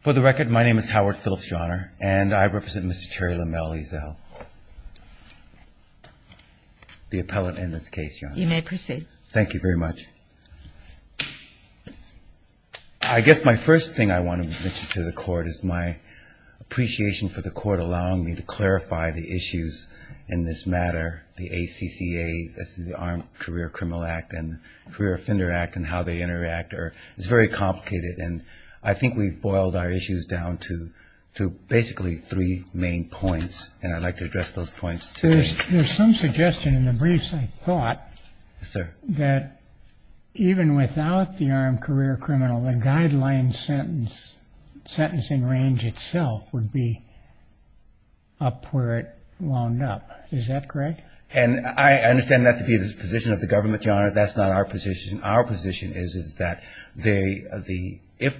For the record, my name is Howard Phillips Johner, and I represent Mr. Terry LaMelle Ezell, the appellate in this case. You may proceed. Thank you very much. I guess my first thing I want to mention to the court is my appreciation for the court allowing me to clarify the issues in this matter, the ACCA, the Armed It's very complicated, and I think we've boiled our issues down to basically three main points, and I'd like to address those points today. There's some suggestion in the briefs, I thought, that even without the armed career criminal, the guideline sentencing range itself would be up where it wound up. Is that correct? And I understand that to be the position of the government, John, that's not our position. Our position is that if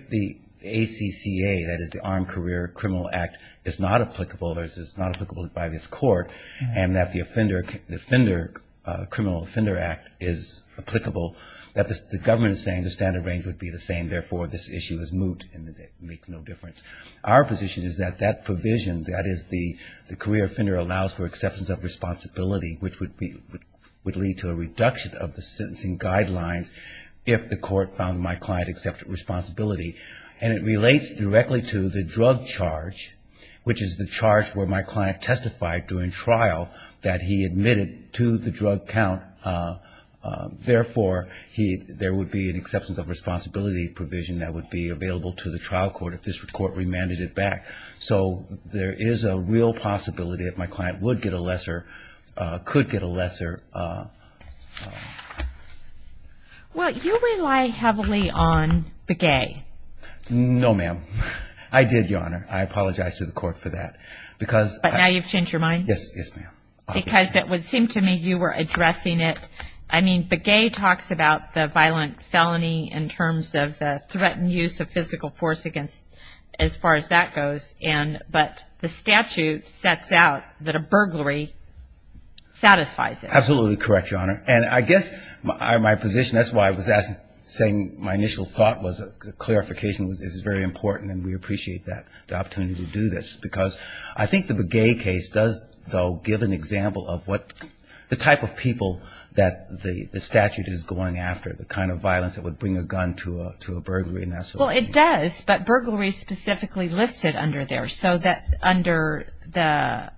the ACCA, that is the Armed Career Criminal Act, is not applicable, it's not applicable by this court, and that the offender, the offender, Criminal Offender Act is applicable, that the government is saying the standard range would be the same, therefore this issue is moot and it makes no difference. Our position is that that provision, that is the career offender allows for acceptance of responsibility, which would lead to a reduction of the sentencing guidelines if the court found my client accepted responsibility. And it relates directly to the drug charge, which is the charge where my client testified during trial that he admitted to the drug count, therefore there would be an acceptance of responsibility provision that would be available to the trial court if this court remanded it back. So there is a real possibility that my client would get a lesser, could get a lesser... Well, you rely heavily on Begay. No, ma'am. I did, Your Honor. I apologize to the court for that. But now you've changed your mind? Yes, yes, ma'am. Because it would seem to me you were addressing it. I mean, Begay talks about the violent felony in terms of the threatened use of physical force against, as far as that goes, but the statute sets out that a burglary satisfies it. Absolutely correct, Your Honor. And I guess my position, that's why I was asking, saying my initial thought was clarification is very important and we appreciate that, the opportunity to do this. Because I think the Begay case does, though, give an example of what the type of people that the statute is going after, the kind of violence that would bring a gun to a burglary. Well, it does, but burglary is specifically listed under there. So that under the,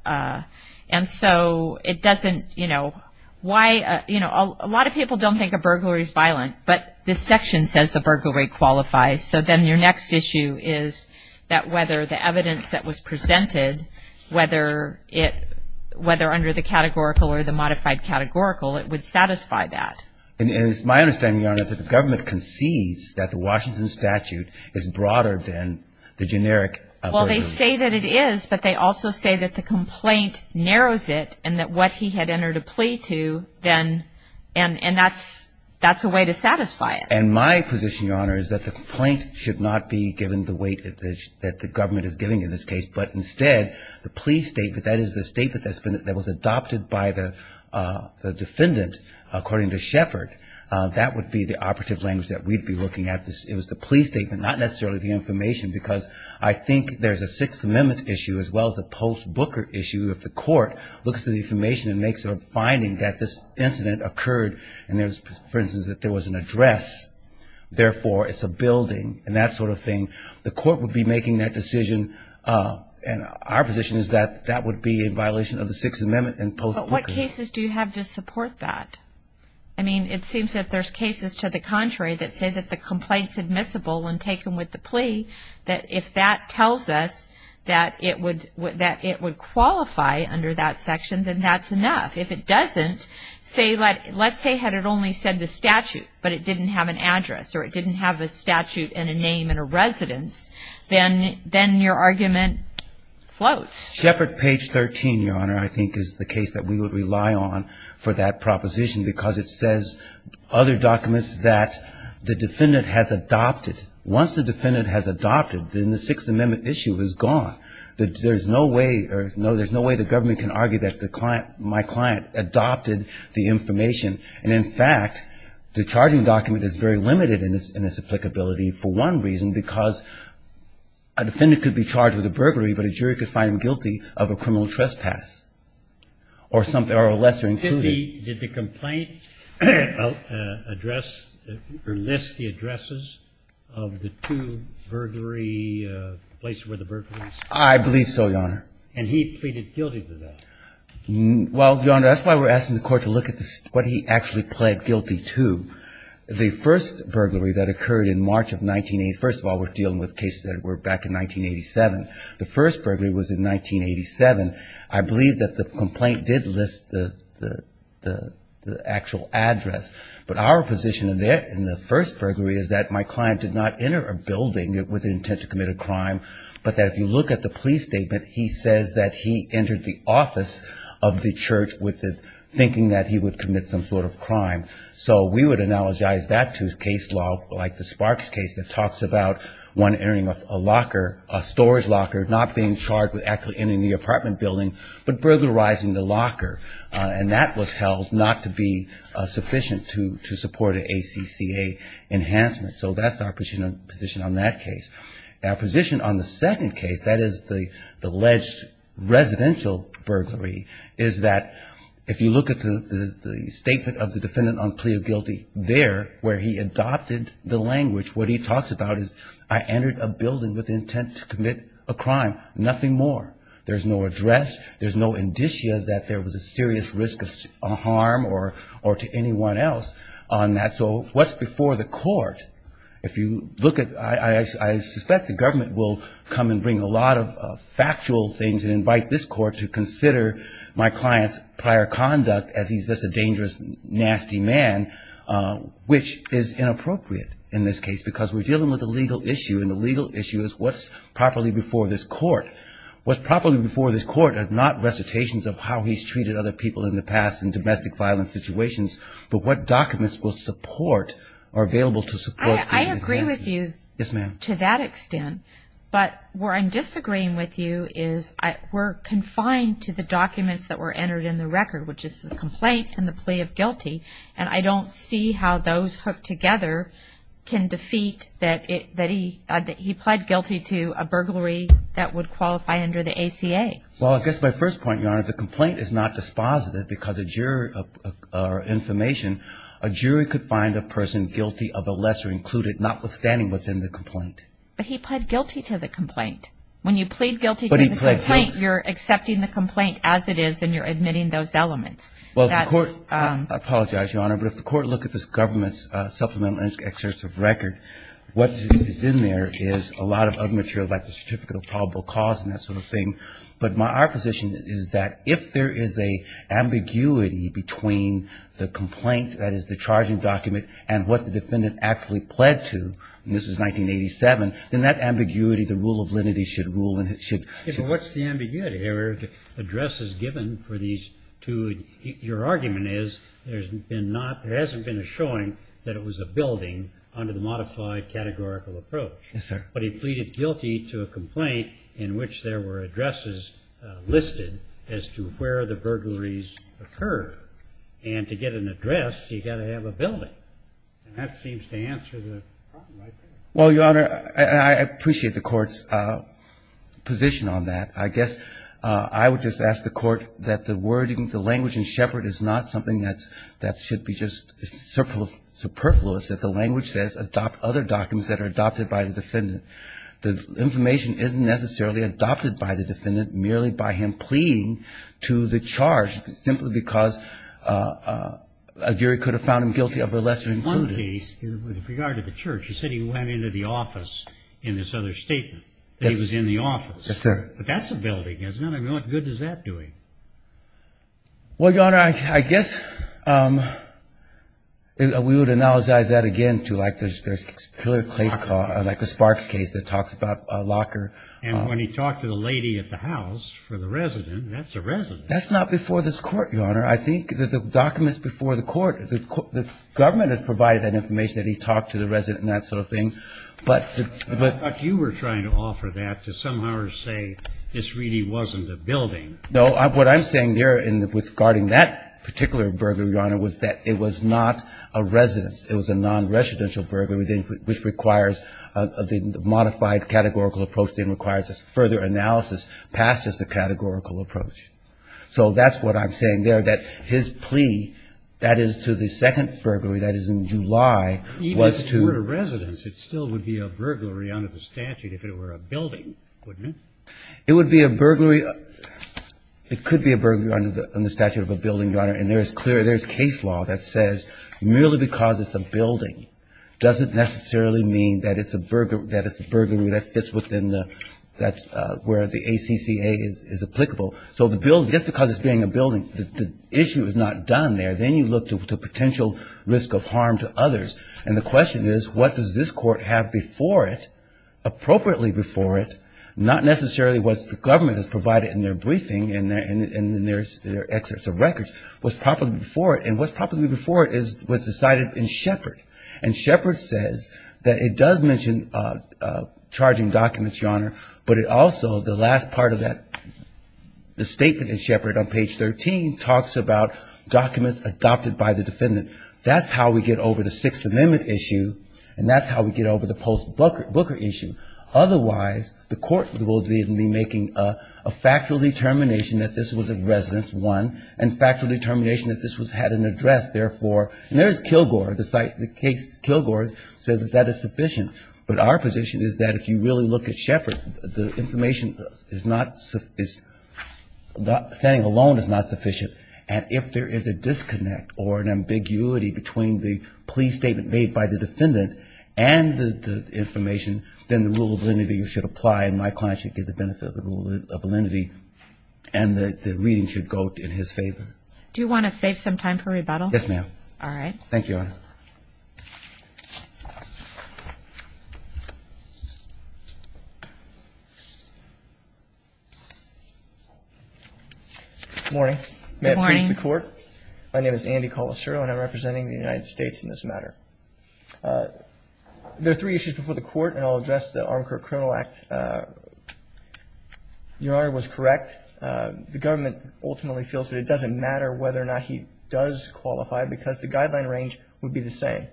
and so it doesn't, you know, why, you know, a lot of people don't think a burglary is violent, but this section says the burglary qualifies. So then your next issue is that whether the evidence that was presented, whether it, whether under the categorical or the modified categorical, it would satisfy that. And it's my understanding, Your Honor, that the government concedes that the Washington statute is broader than the generic burglary. Well, they say that it is, but they also say that the complaint narrows it and that what he had entered a plea to then, and that's a way to satisfy it. And my position, Your Honor, is that the complaint should not be given the weight that the government is giving in this case, but instead the plea statement, that is the statement that was adopted by the defendant, according to Shepard, that would be the operative language that we'd be looking at. It was the plea statement, not necessarily the information, because I think there's a Sixth Amendment issue as well as a post-Booker issue. If the court looks through the information and makes a finding that this incident occurred, and there's, for instance, that there was an address, therefore it's a building and that sort of thing, the court would be making that decision. And our position is that that would be in violation of the Sixth Amendment and post-Booker. But what cases do you have to support that? I mean, it seems that there's cases to the contrary that say that the complaint's admissible when taken with the plea, that if that tells us that it would qualify under that section, then that's enough. If it doesn't, let's say had it only said the statute but it didn't have an address or it didn't have a statute and a name and a residence, then your argument floats. Shepard page 13, Your Honor, I think is the case that we would rely on for that proposition, because it says other documents that the defendant has adopted. Once the defendant has adopted, then the Sixth Amendment issue is gone. There's no way the government can argue that my client adopted the information. And in fact, the charging document is very limited in its applicability for one reason, because a defendant could be charged with a burglary, but a jury could find him guilty of a criminal trespass or lesser included. Did the complaint address or list the addresses of the two burglary places where the burglary was? I believe so, Your Honor. And he pleaded guilty to that? Well, Your Honor, that's why we're asking the court to look at what he actually pled guilty to. The first burglary that occurred in March of 1981, first of all, we're dealing with cases that were back in 1987. The first burglary was in 1987. I believe that the complaint did list the actual address. But our position in the first burglary is that my client did not enter a building with the intent to commit a crime, but that if you look at the police statement, he says that he entered the office of the church with the thinking that he would commit some sort of crime. So we would analogize that to case law, like the Sparks case, that talks about one entering a locker, a storage locker, not being charged with actually entering the apartment building, but burglarizing the locker. And that was held not to be sufficient to support an ACCA enhancement. So that's our position on that case. Our position on the second case, that is the alleged residential burglary, is that if you look at the statement of the defendant on plea of guilty there where he adopted the language, what he talks about is I entered a building with the intent to commit a crime, nothing more. There's no address. There's no indicia that there was a serious risk of harm or to anyone else on that. So what's before the court? I suspect the government will come and bring a lot of factual things and invite this court to consider my client's prior conduct as he's just a dangerous, nasty man, which is inappropriate in this case because we're dealing with a legal issue, and the legal issue is what's properly before this court. What's properly before this court are not recitations of how he's treated other people in the past in domestic violence situations, but what documents will support or are available to support. I agree with you to that extent. But where I'm disagreeing with you is we're confined to the documents that were entered in the record, which is the complaint and the plea of guilty, and I don't see how those hooked together can defeat that he pled guilty to a burglary that would qualify under the ACA. Well, I guess my first point, Your Honor, the complaint is not dispositive because of information. A jury could find a person guilty of a lesser included notwithstanding what's in the complaint. But he pled guilty to the complaint. When you plead guilty to the complaint, you're accepting the complaint as it is and you're admitting those elements. I apologize, Your Honor, but if the court looked at this government's supplemental excerpts of record, what is in there is a lot of other material, like the certificate of probable cause and that sort of thing. But our position is that if there is an ambiguity between the complaint, that is the charging document, and what the defendant actually pled to, and this was 1987, then that ambiguity, the rule of lenity, should rule. What's the ambiguity here? The address is given for these two. Your argument is there hasn't been a showing that it was a building under the modified categorical approach. Yes, sir. But he pleaded guilty to a complaint in which there were addresses listed as to where the burglaries occurred. And to get an address, you've got to have a building. And that seems to answer the problem right there. Well, Your Honor, I appreciate the Court's position on that. I guess I would just ask the Court that the wording, the language in Shepard, is not something that should be just superfluous, that the language says, adopt other documents that are adopted by the defendant. The information isn't necessarily adopted by the defendant, merely by him pleading to the charge, simply because a jury could have found him guilty of a lesser included. In one case, with regard to the church, you said he went into the office in this other statement, that he was in the office. Yes, sir. But that's a building, isn't it? I mean, what good is that doing? Well, Your Honor, I guess we would analyze that again to, like, the Sparks case that talks about a locker. And when he talked to the lady at the house for the resident, that's a resident. That's not before this Court, Your Honor. I think the document's before the Court. The government has provided that information, that he talked to the resident and that sort of thing. But you were trying to offer that to somehow say this really wasn't a building. No. What I'm saying there in regarding that particular burglary, Your Honor, was that it was not a residence. It was a nonresidential burglary, which requires the modified categorical approach, then requires a further analysis past just the categorical approach. So that's what I'm saying there, that his plea, that is, to the second burglary, that is, in July, was to the residence. It still would be a burglary under the statute if it were a building, wouldn't it? It would be a burglary. It could be a burglary under the statute of a building, Your Honor. And there is clear, there is case law that says merely because it's a building doesn't necessarily mean that it's a burglary that fits within the, that's where the ACCA is applicable. So the building, just because it's being a building, the issue is not done there. Then you look to the potential risk of harm to others. And the question is, what does this court have before it, appropriately before it, not necessarily what the government has provided in their briefing and in their excerpts of records, what's properly before it, and what's properly before it was decided in Shepard. And Shepard says that it does mention charging documents, Your Honor, but it also, the last part of that, the statement in Shepard on page 13 talks about documents adopted by the defendant. That's how we get over the Sixth Amendment issue. And that's how we get over the post-Booker issue. Otherwise, the court will be making a factual determination that this was a residence, one, and factual determination that this had an address, therefore. And there is Kilgore, the site, the case, Kilgore said that that is sufficient. But our position is that if you really look at Shepard, the information is not, standing alone is not sufficient. And if there is a disconnect or an ambiguity between the plea statement made by the defendant and the information, then the rule of validity should apply, and my client should get the benefit of the rule of validity, and the reading should go in his favor. Do you want to save some time for rebuttal? Yes, ma'am. All right. Thank you, Your Honor. Good morning. Good morning. May it please the Court. My name is Andy Colasuro, and I'm representing the United States in this matter. There are three issues before the Court, and I'll address the Armacourt Criminal Act. Your Honor was correct. The government ultimately feels that it doesn't matter whether or not he does qualify because the guideline range would be the same.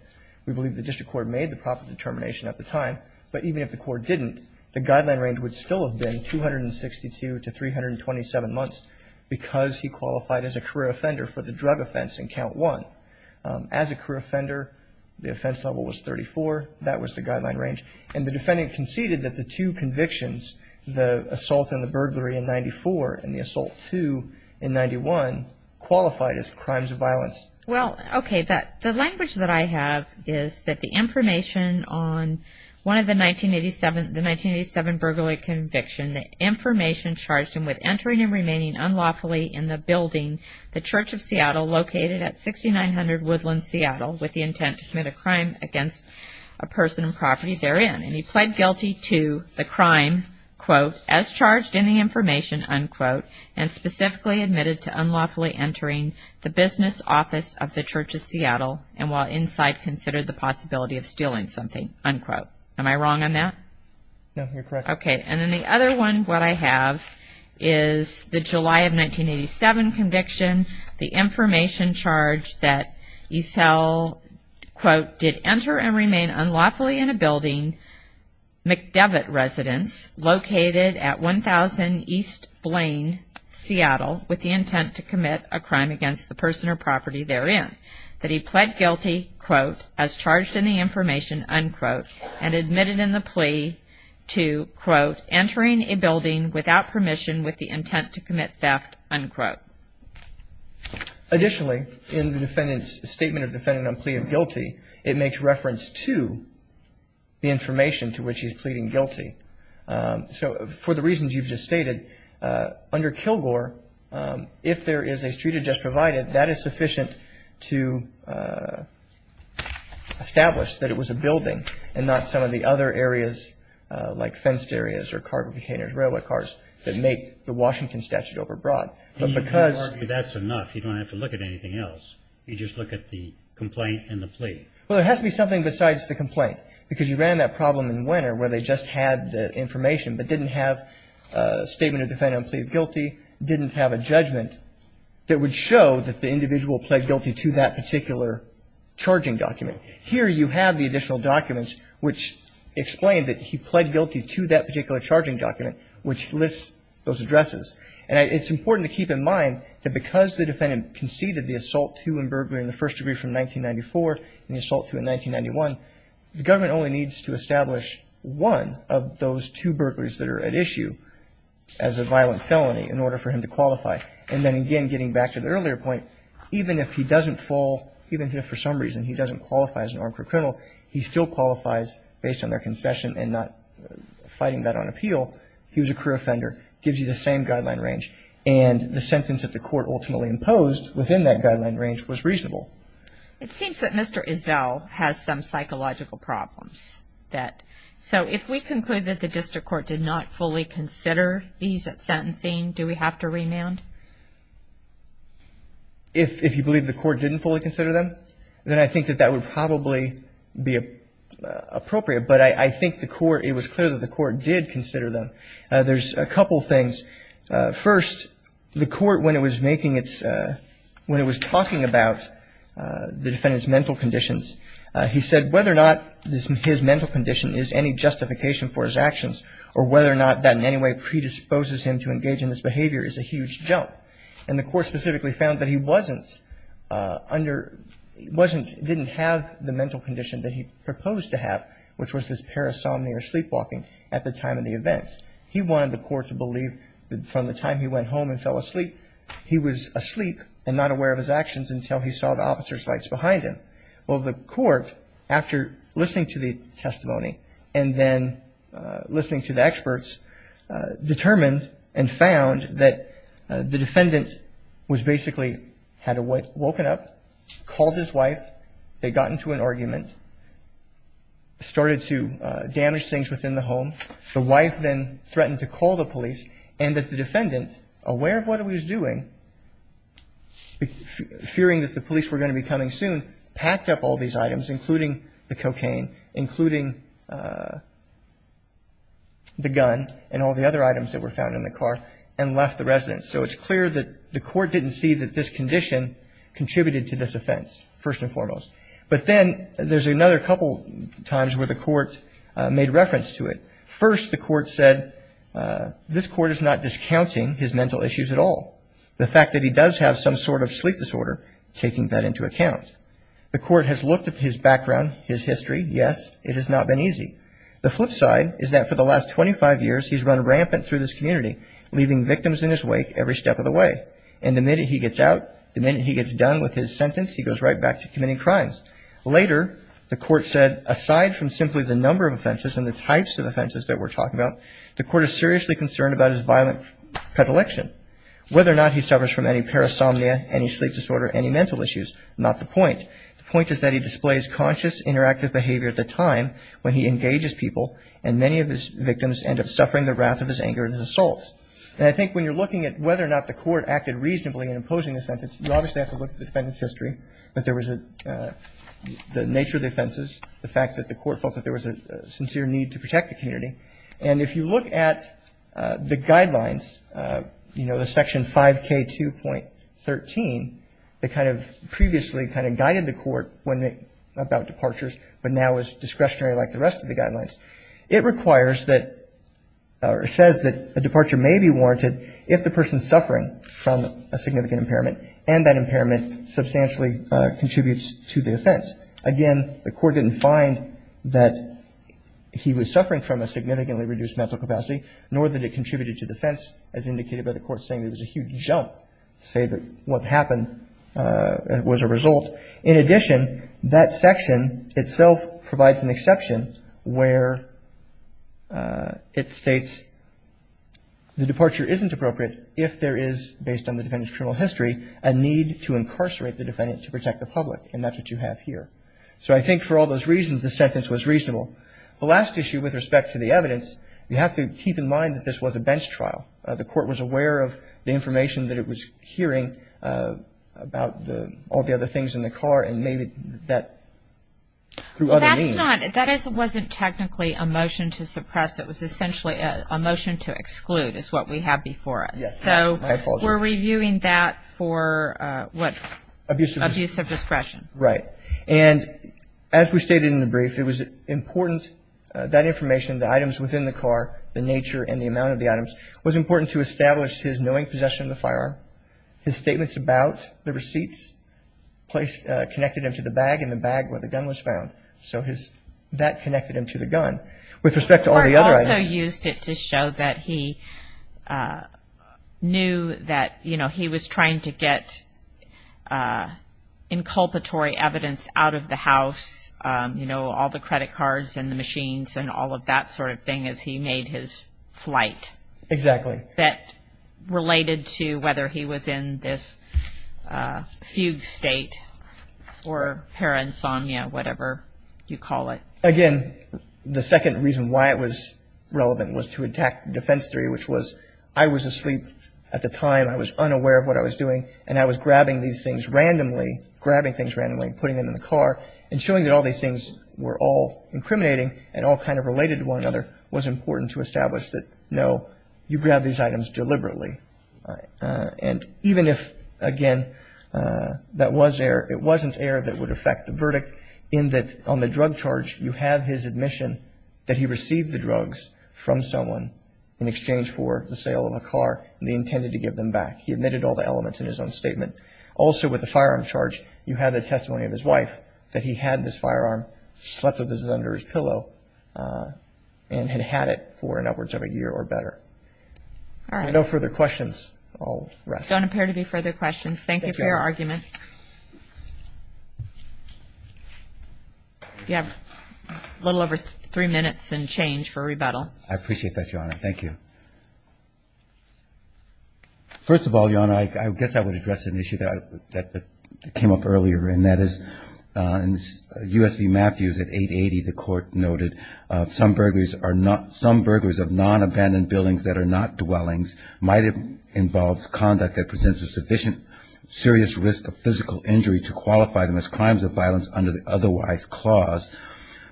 We believe the district court made the proper determination at the time, but even if the court didn't, the guideline range would still have been 262 to 327 months because he qualified as a career offender for the drug offense in count one. As a career offender, the offense level was 34. That was the guideline range. And the defendant conceded that the two convictions, the assault and the burglary in 94 and the assault two in 91, qualified as crimes of violence. Well, okay. The language that I have is that the information on one of the 1987 burglary conviction, the information charged him with entering and remaining unlawfully in the building, the Church of Seattle, located at 6900 Woodland, Seattle, with the intent to commit a crime against a person and property therein. And he pled guilty to the crime, quote, as charged in the information, unquote, and specifically admitted to unlawfully entering the business office of the Church of Seattle and while inside considered the possibility of stealing something, unquote. Am I wrong on that? No, you're correct. Okay. And then the other one, what I have, is the July of 1987 conviction, the information charged that Esel, quote, did enter and remain unlawfully in a building, McDevitt Residence, located at 1000 East Blaine, Seattle, with the intent to commit a crime against the person or property therein. That he pled guilty, quote, as charged in the information, unquote, and admitted in the plea to, quote, entering a building without permission with the intent to commit theft, unquote. Additionally, in the defendant's statement of defendant on plea of guilty, it makes reference to the information to which he's pleading guilty. So for the reasons you've just stated, under Kilgore, if there is a street adjust provided, that is sufficient to establish that it was a building and not some of the other areas like fenced areas or carbon containers, railway cars that make the Washington statute overbroad. But because you don't have to look at anything else. You just look at the complaint and the plea. Well, there has to be something besides the complaint. Because you ran that problem in Winner where they just had the information but didn't have a statement of defendant on plea of guilty, didn't have a judgment that would show that the individual pled guilty to that particular charging document. Here you have the additional documents which explain that he pled guilty to that particular charging document, which lists those addresses. And it's important to keep in mind that because the defendant conceded the assault two and burglary in the first degree from 1994 and the assault two in 1991, the government only needs to establish one of those two burglaries that are at issue as a violent felony in order for him to qualify. And then again, getting back to the earlier point, even if he doesn't fall, even if for some reason he doesn't qualify as an armed criminal, he still qualifies based on their concession and not fighting that on appeal. He was a career offender. Gives you the same guideline range. And the sentence that the court ultimately imposed within that guideline range was reasonable. It seems that Mr. Izzell has some psychological problems. So if we conclude that the district court did not fully consider these at sentencing, do we have to remand? If you believe the court didn't fully consider them, then I think that that would probably be appropriate. But I think the court, it was clear that the court did consider them. There's a couple things. First, the court, when it was making its, when it was talking about the defendant's mental conditions, he said whether or not his mental condition is any justification for his actions or whether or not that in any way predisposes him to engage in this behavior is a huge jump. And the court specifically found that he wasn't under, wasn't, didn't have the mental condition that he proposed to have, which was this parasomnia or sleepwalking at the time of the events. He wanted the court to believe that from the time he went home and fell asleep, he was asleep and not aware of his actions until he saw the officer's lights behind him. Well, the court, after listening to the testimony and then listening to the experts, determined and found that the defendant was basically, had woken up, called his wife. They got into an argument, started to damage things within the home. The wife then threatened to call the police and that the defendant, aware of what he was doing, fearing that the police were going to be coming soon, packed up all these items, including the cocaine, including the gun and all the other items that were found in the car and left the residence. So it's clear that the court didn't see that this condition contributed to this offense, first and foremost. But then there's another couple times where the court made reference to it. First, the court said this court is not discounting his mental issues at all. The fact that he does have some sort of sleep disorder, taking that into account. The court has looked at his background, his history. Yes, it has not been easy. The flip side is that for the last 25 years, he's run rampant through this community, leaving victims in his wake every step of the way. And the minute he gets out, the minute he gets done with his sentence, he goes right back to committing crimes. Later, the court said, aside from simply the number of offenses and the types of offenses that we're talking about, the court is seriously concerned about his violent predilection, whether or not he suffers from any parasomnia, any sleep disorder, any mental issues. Not the point. The point is that he displays conscious, interactive behavior at the time when he engages people and many of his victims end up suffering the wrath of his anger and his assaults. And I think when you're looking at whether or not the court acted reasonably in imposing the sentence, you obviously have to look at the defendant's history, the nature of the offenses, the fact that the court felt that there was a sincere need to protect the community. And if you look at the guidelines, you know, the Section 5K2.13, that kind of previously kind of guided the court about departures but now is discretionary like the rest of the guidelines, it requires that or says that a departure may be warranted if the person is suffering from a significant impairment and that impairment substantially contributes to the offense. Again, the court didn't find that he was suffering from a significantly reduced mental capacity nor that it contributed to the offense, as indicated by the court saying there was a huge jump to say that what happened was a result. In addition, that section itself provides an exception where it states the departure isn't appropriate if there is, based on the defendant's criminal history, a need to incarcerate the defendant to protect the public. And that's what you have here. So I think for all those reasons, the sentence was reasonable. The last issue with respect to the evidence, you have to keep in mind that this was a bench trial. The court was aware of the information that it was hearing about all the other things in the car and made that through other means. That wasn't technically a motion to suppress. It was essentially a motion to exclude is what we have before us. Yes. So we're reviewing that for what? Abuse of discretion. Abuse of discretion. Right. And as we stated in the brief, it was important, that information, the items within the car, the nature and the amount of the items, was important to establish his knowing possession of the firearm, his statements about the receipts connected him to the bag and the bag where the gun was found. So that connected him to the gun. With respect to all the other items. He also used it to show that he knew that, you know, he was trying to get inculpatory evidence out of the house, you know, all the credit cards and the machines and all of that sort of thing as he made his flight. Exactly. That related to whether he was in this fugue state or paransomnia, whatever you call it. Again, the second reason why it was relevant was to attack defense theory, which was I was asleep at the time, I was unaware of what I was doing, and I was grabbing these things randomly, grabbing things randomly and putting them in the car and showing that all these things were all incriminating and all kind of related to one another, was important to establish that, no, you grabbed these items deliberately. And even if, again, that was error, it wasn't error that would affect the verdict in that on the drug charge you have his admission that he received the drugs from someone in exchange for the sale of a car and he intended to give them back. He admitted all the elements in his own statement. Also, with the firearm charge, you have the testimony of his wife that he had this firearm, slept with it under his pillow, and had had it for an upwards of a year or better. All right. No further questions. I'll rest. Don't appear to be further questions. Thank you for your argument. You have a little over three minutes and change for rebuttal. I appreciate that, Your Honor. Thank you. First of all, Your Honor, I guess I would address an issue that came up earlier, and that is U.S. v. Matthews at 880, the court noted, some burglars of non-abandoned buildings that are not dwellings might have involved conduct that presents a sufficient serious risk of physical injury to qualify them as crimes of violence under the otherwise clause.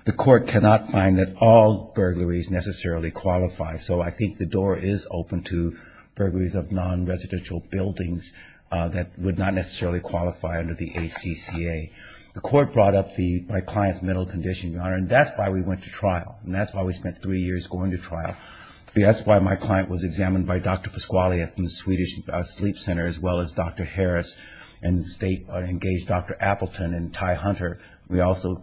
The court cannot find that all burglaries necessarily qualify, so I think the door is open to burglaries of non-residential buildings that would not necessarily qualify under the ACCA. The court brought up my client's mental condition, Your Honor, and that's why we went to trial, and that's why we spent three years going to trial. That's why my client was examined by Dr. Pasquale from the Swedish Sleep Center as well as Dr. Harris and engaged Dr. Appleton and Ty Hunter. He also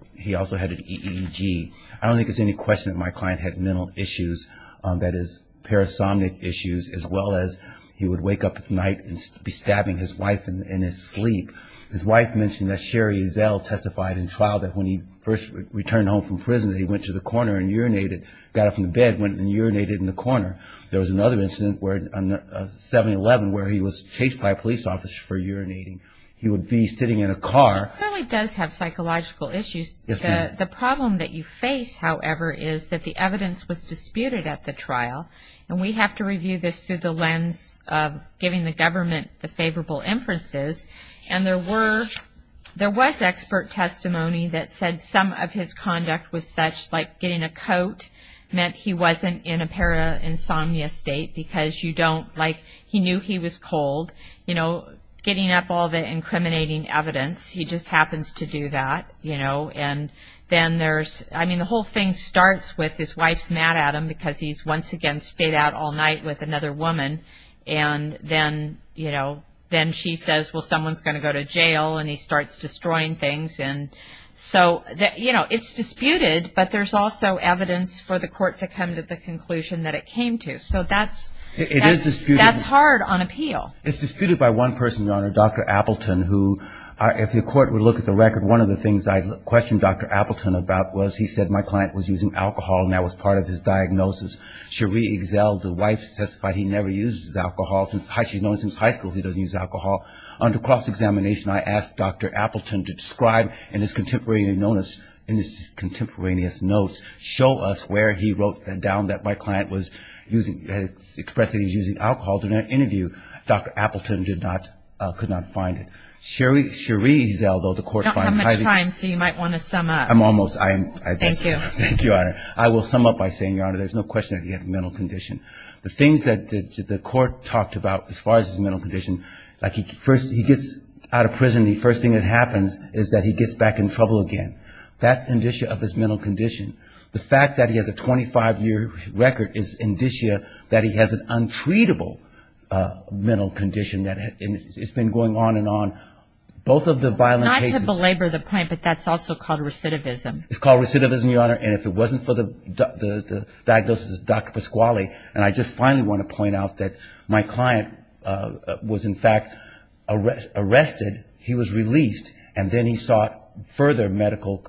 had an EEG. I don't think it's any question that my client had mental issues, that is, parasomnic issues, as well as he would wake up at night and be stabbing his wife in his sleep. His wife mentioned that Sherry Ezel testified in trial that when he first returned home from prison, he went to the corner and urinated, got up from the bed, went and urinated in the corner. There was another incident, 7-11, where he was chased by a police officer for urinating. He would be sitting in a car. He really does have psychological issues. The problem that you face, however, is that the evidence was disputed at the trial, and we have to review this through the lens of giving the government the favorable inferences, and there was expert testimony that said some of his conduct was such, like getting a coat, meant he wasn't in a parainsomnia state because you don't, like, he knew he was cold. You know, getting up all the incriminating evidence, he just happens to do that, you know, and then there's, I mean, the whole thing starts with his wife's mad at him because he's once again stayed out all night with another woman, and then, you know, then she says, well, someone's going to go to jail, and he starts destroying things, and so, you know, it's disputed, but there's also evidence for the court to come to the conclusion that it came to, so that's hard on appeal. It's disputed by one person, Your Honor, Dr. Appleton, who, if the court would look at the record, one of the things I questioned Dr. Appleton about was he said my client was using alcohol, and that was part of his diagnosis. Cherie Exel, the wife, testified he never uses alcohol since high school. She's known him since high school. He doesn't use alcohol. Under cross-examination, I asked Dr. Appleton to describe in his contemporaneous notes, show us where he wrote down that my client was using, expressed that he was using alcohol. During an interview, Dr. Appleton did not, could not find it. Cherie Exel, though, the court found highly. I don't have much time, so you might want to sum up. I'm almost. Thank you. Thank you, Your Honor. I will sum up by saying, Your Honor, there's no question that he had a mental condition. The things that the court talked about as far as his mental condition, like he gets out of prison, the first thing that happens is that he gets back in trouble again. That's indicia of his mental condition. The fact that he has a 25-year record is indicia that he has an untreatable mental condition. It's been going on and on. Both of the violent cases. Not to belabor the point, but that's also called recidivism. It's called recidivism, Your Honor. And if it wasn't for the diagnosis of Dr. Pasquale, and I just finally want to point out that my client was, in fact, arrested. He was released, and then he sought further medical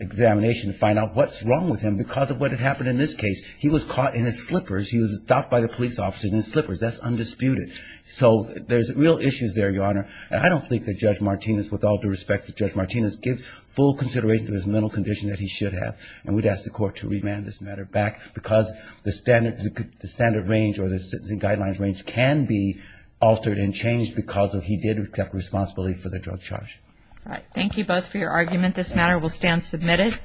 examination to find out what's wrong with him because of what had happened in this case. He was caught in his slippers. He was stopped by the police officer in his slippers. That's undisputed. So there's real issues there, Your Honor. And I don't think that Judge Martinez, with all due respect to Judge Martinez, gives full consideration to his mental condition that he should have. And we'd ask the Court to remand this matter back because the standard range or the guidelines range can be altered and changed because he did accept responsibility for the drug charge. All right. Thank you both for your argument. This matter will stand submitted.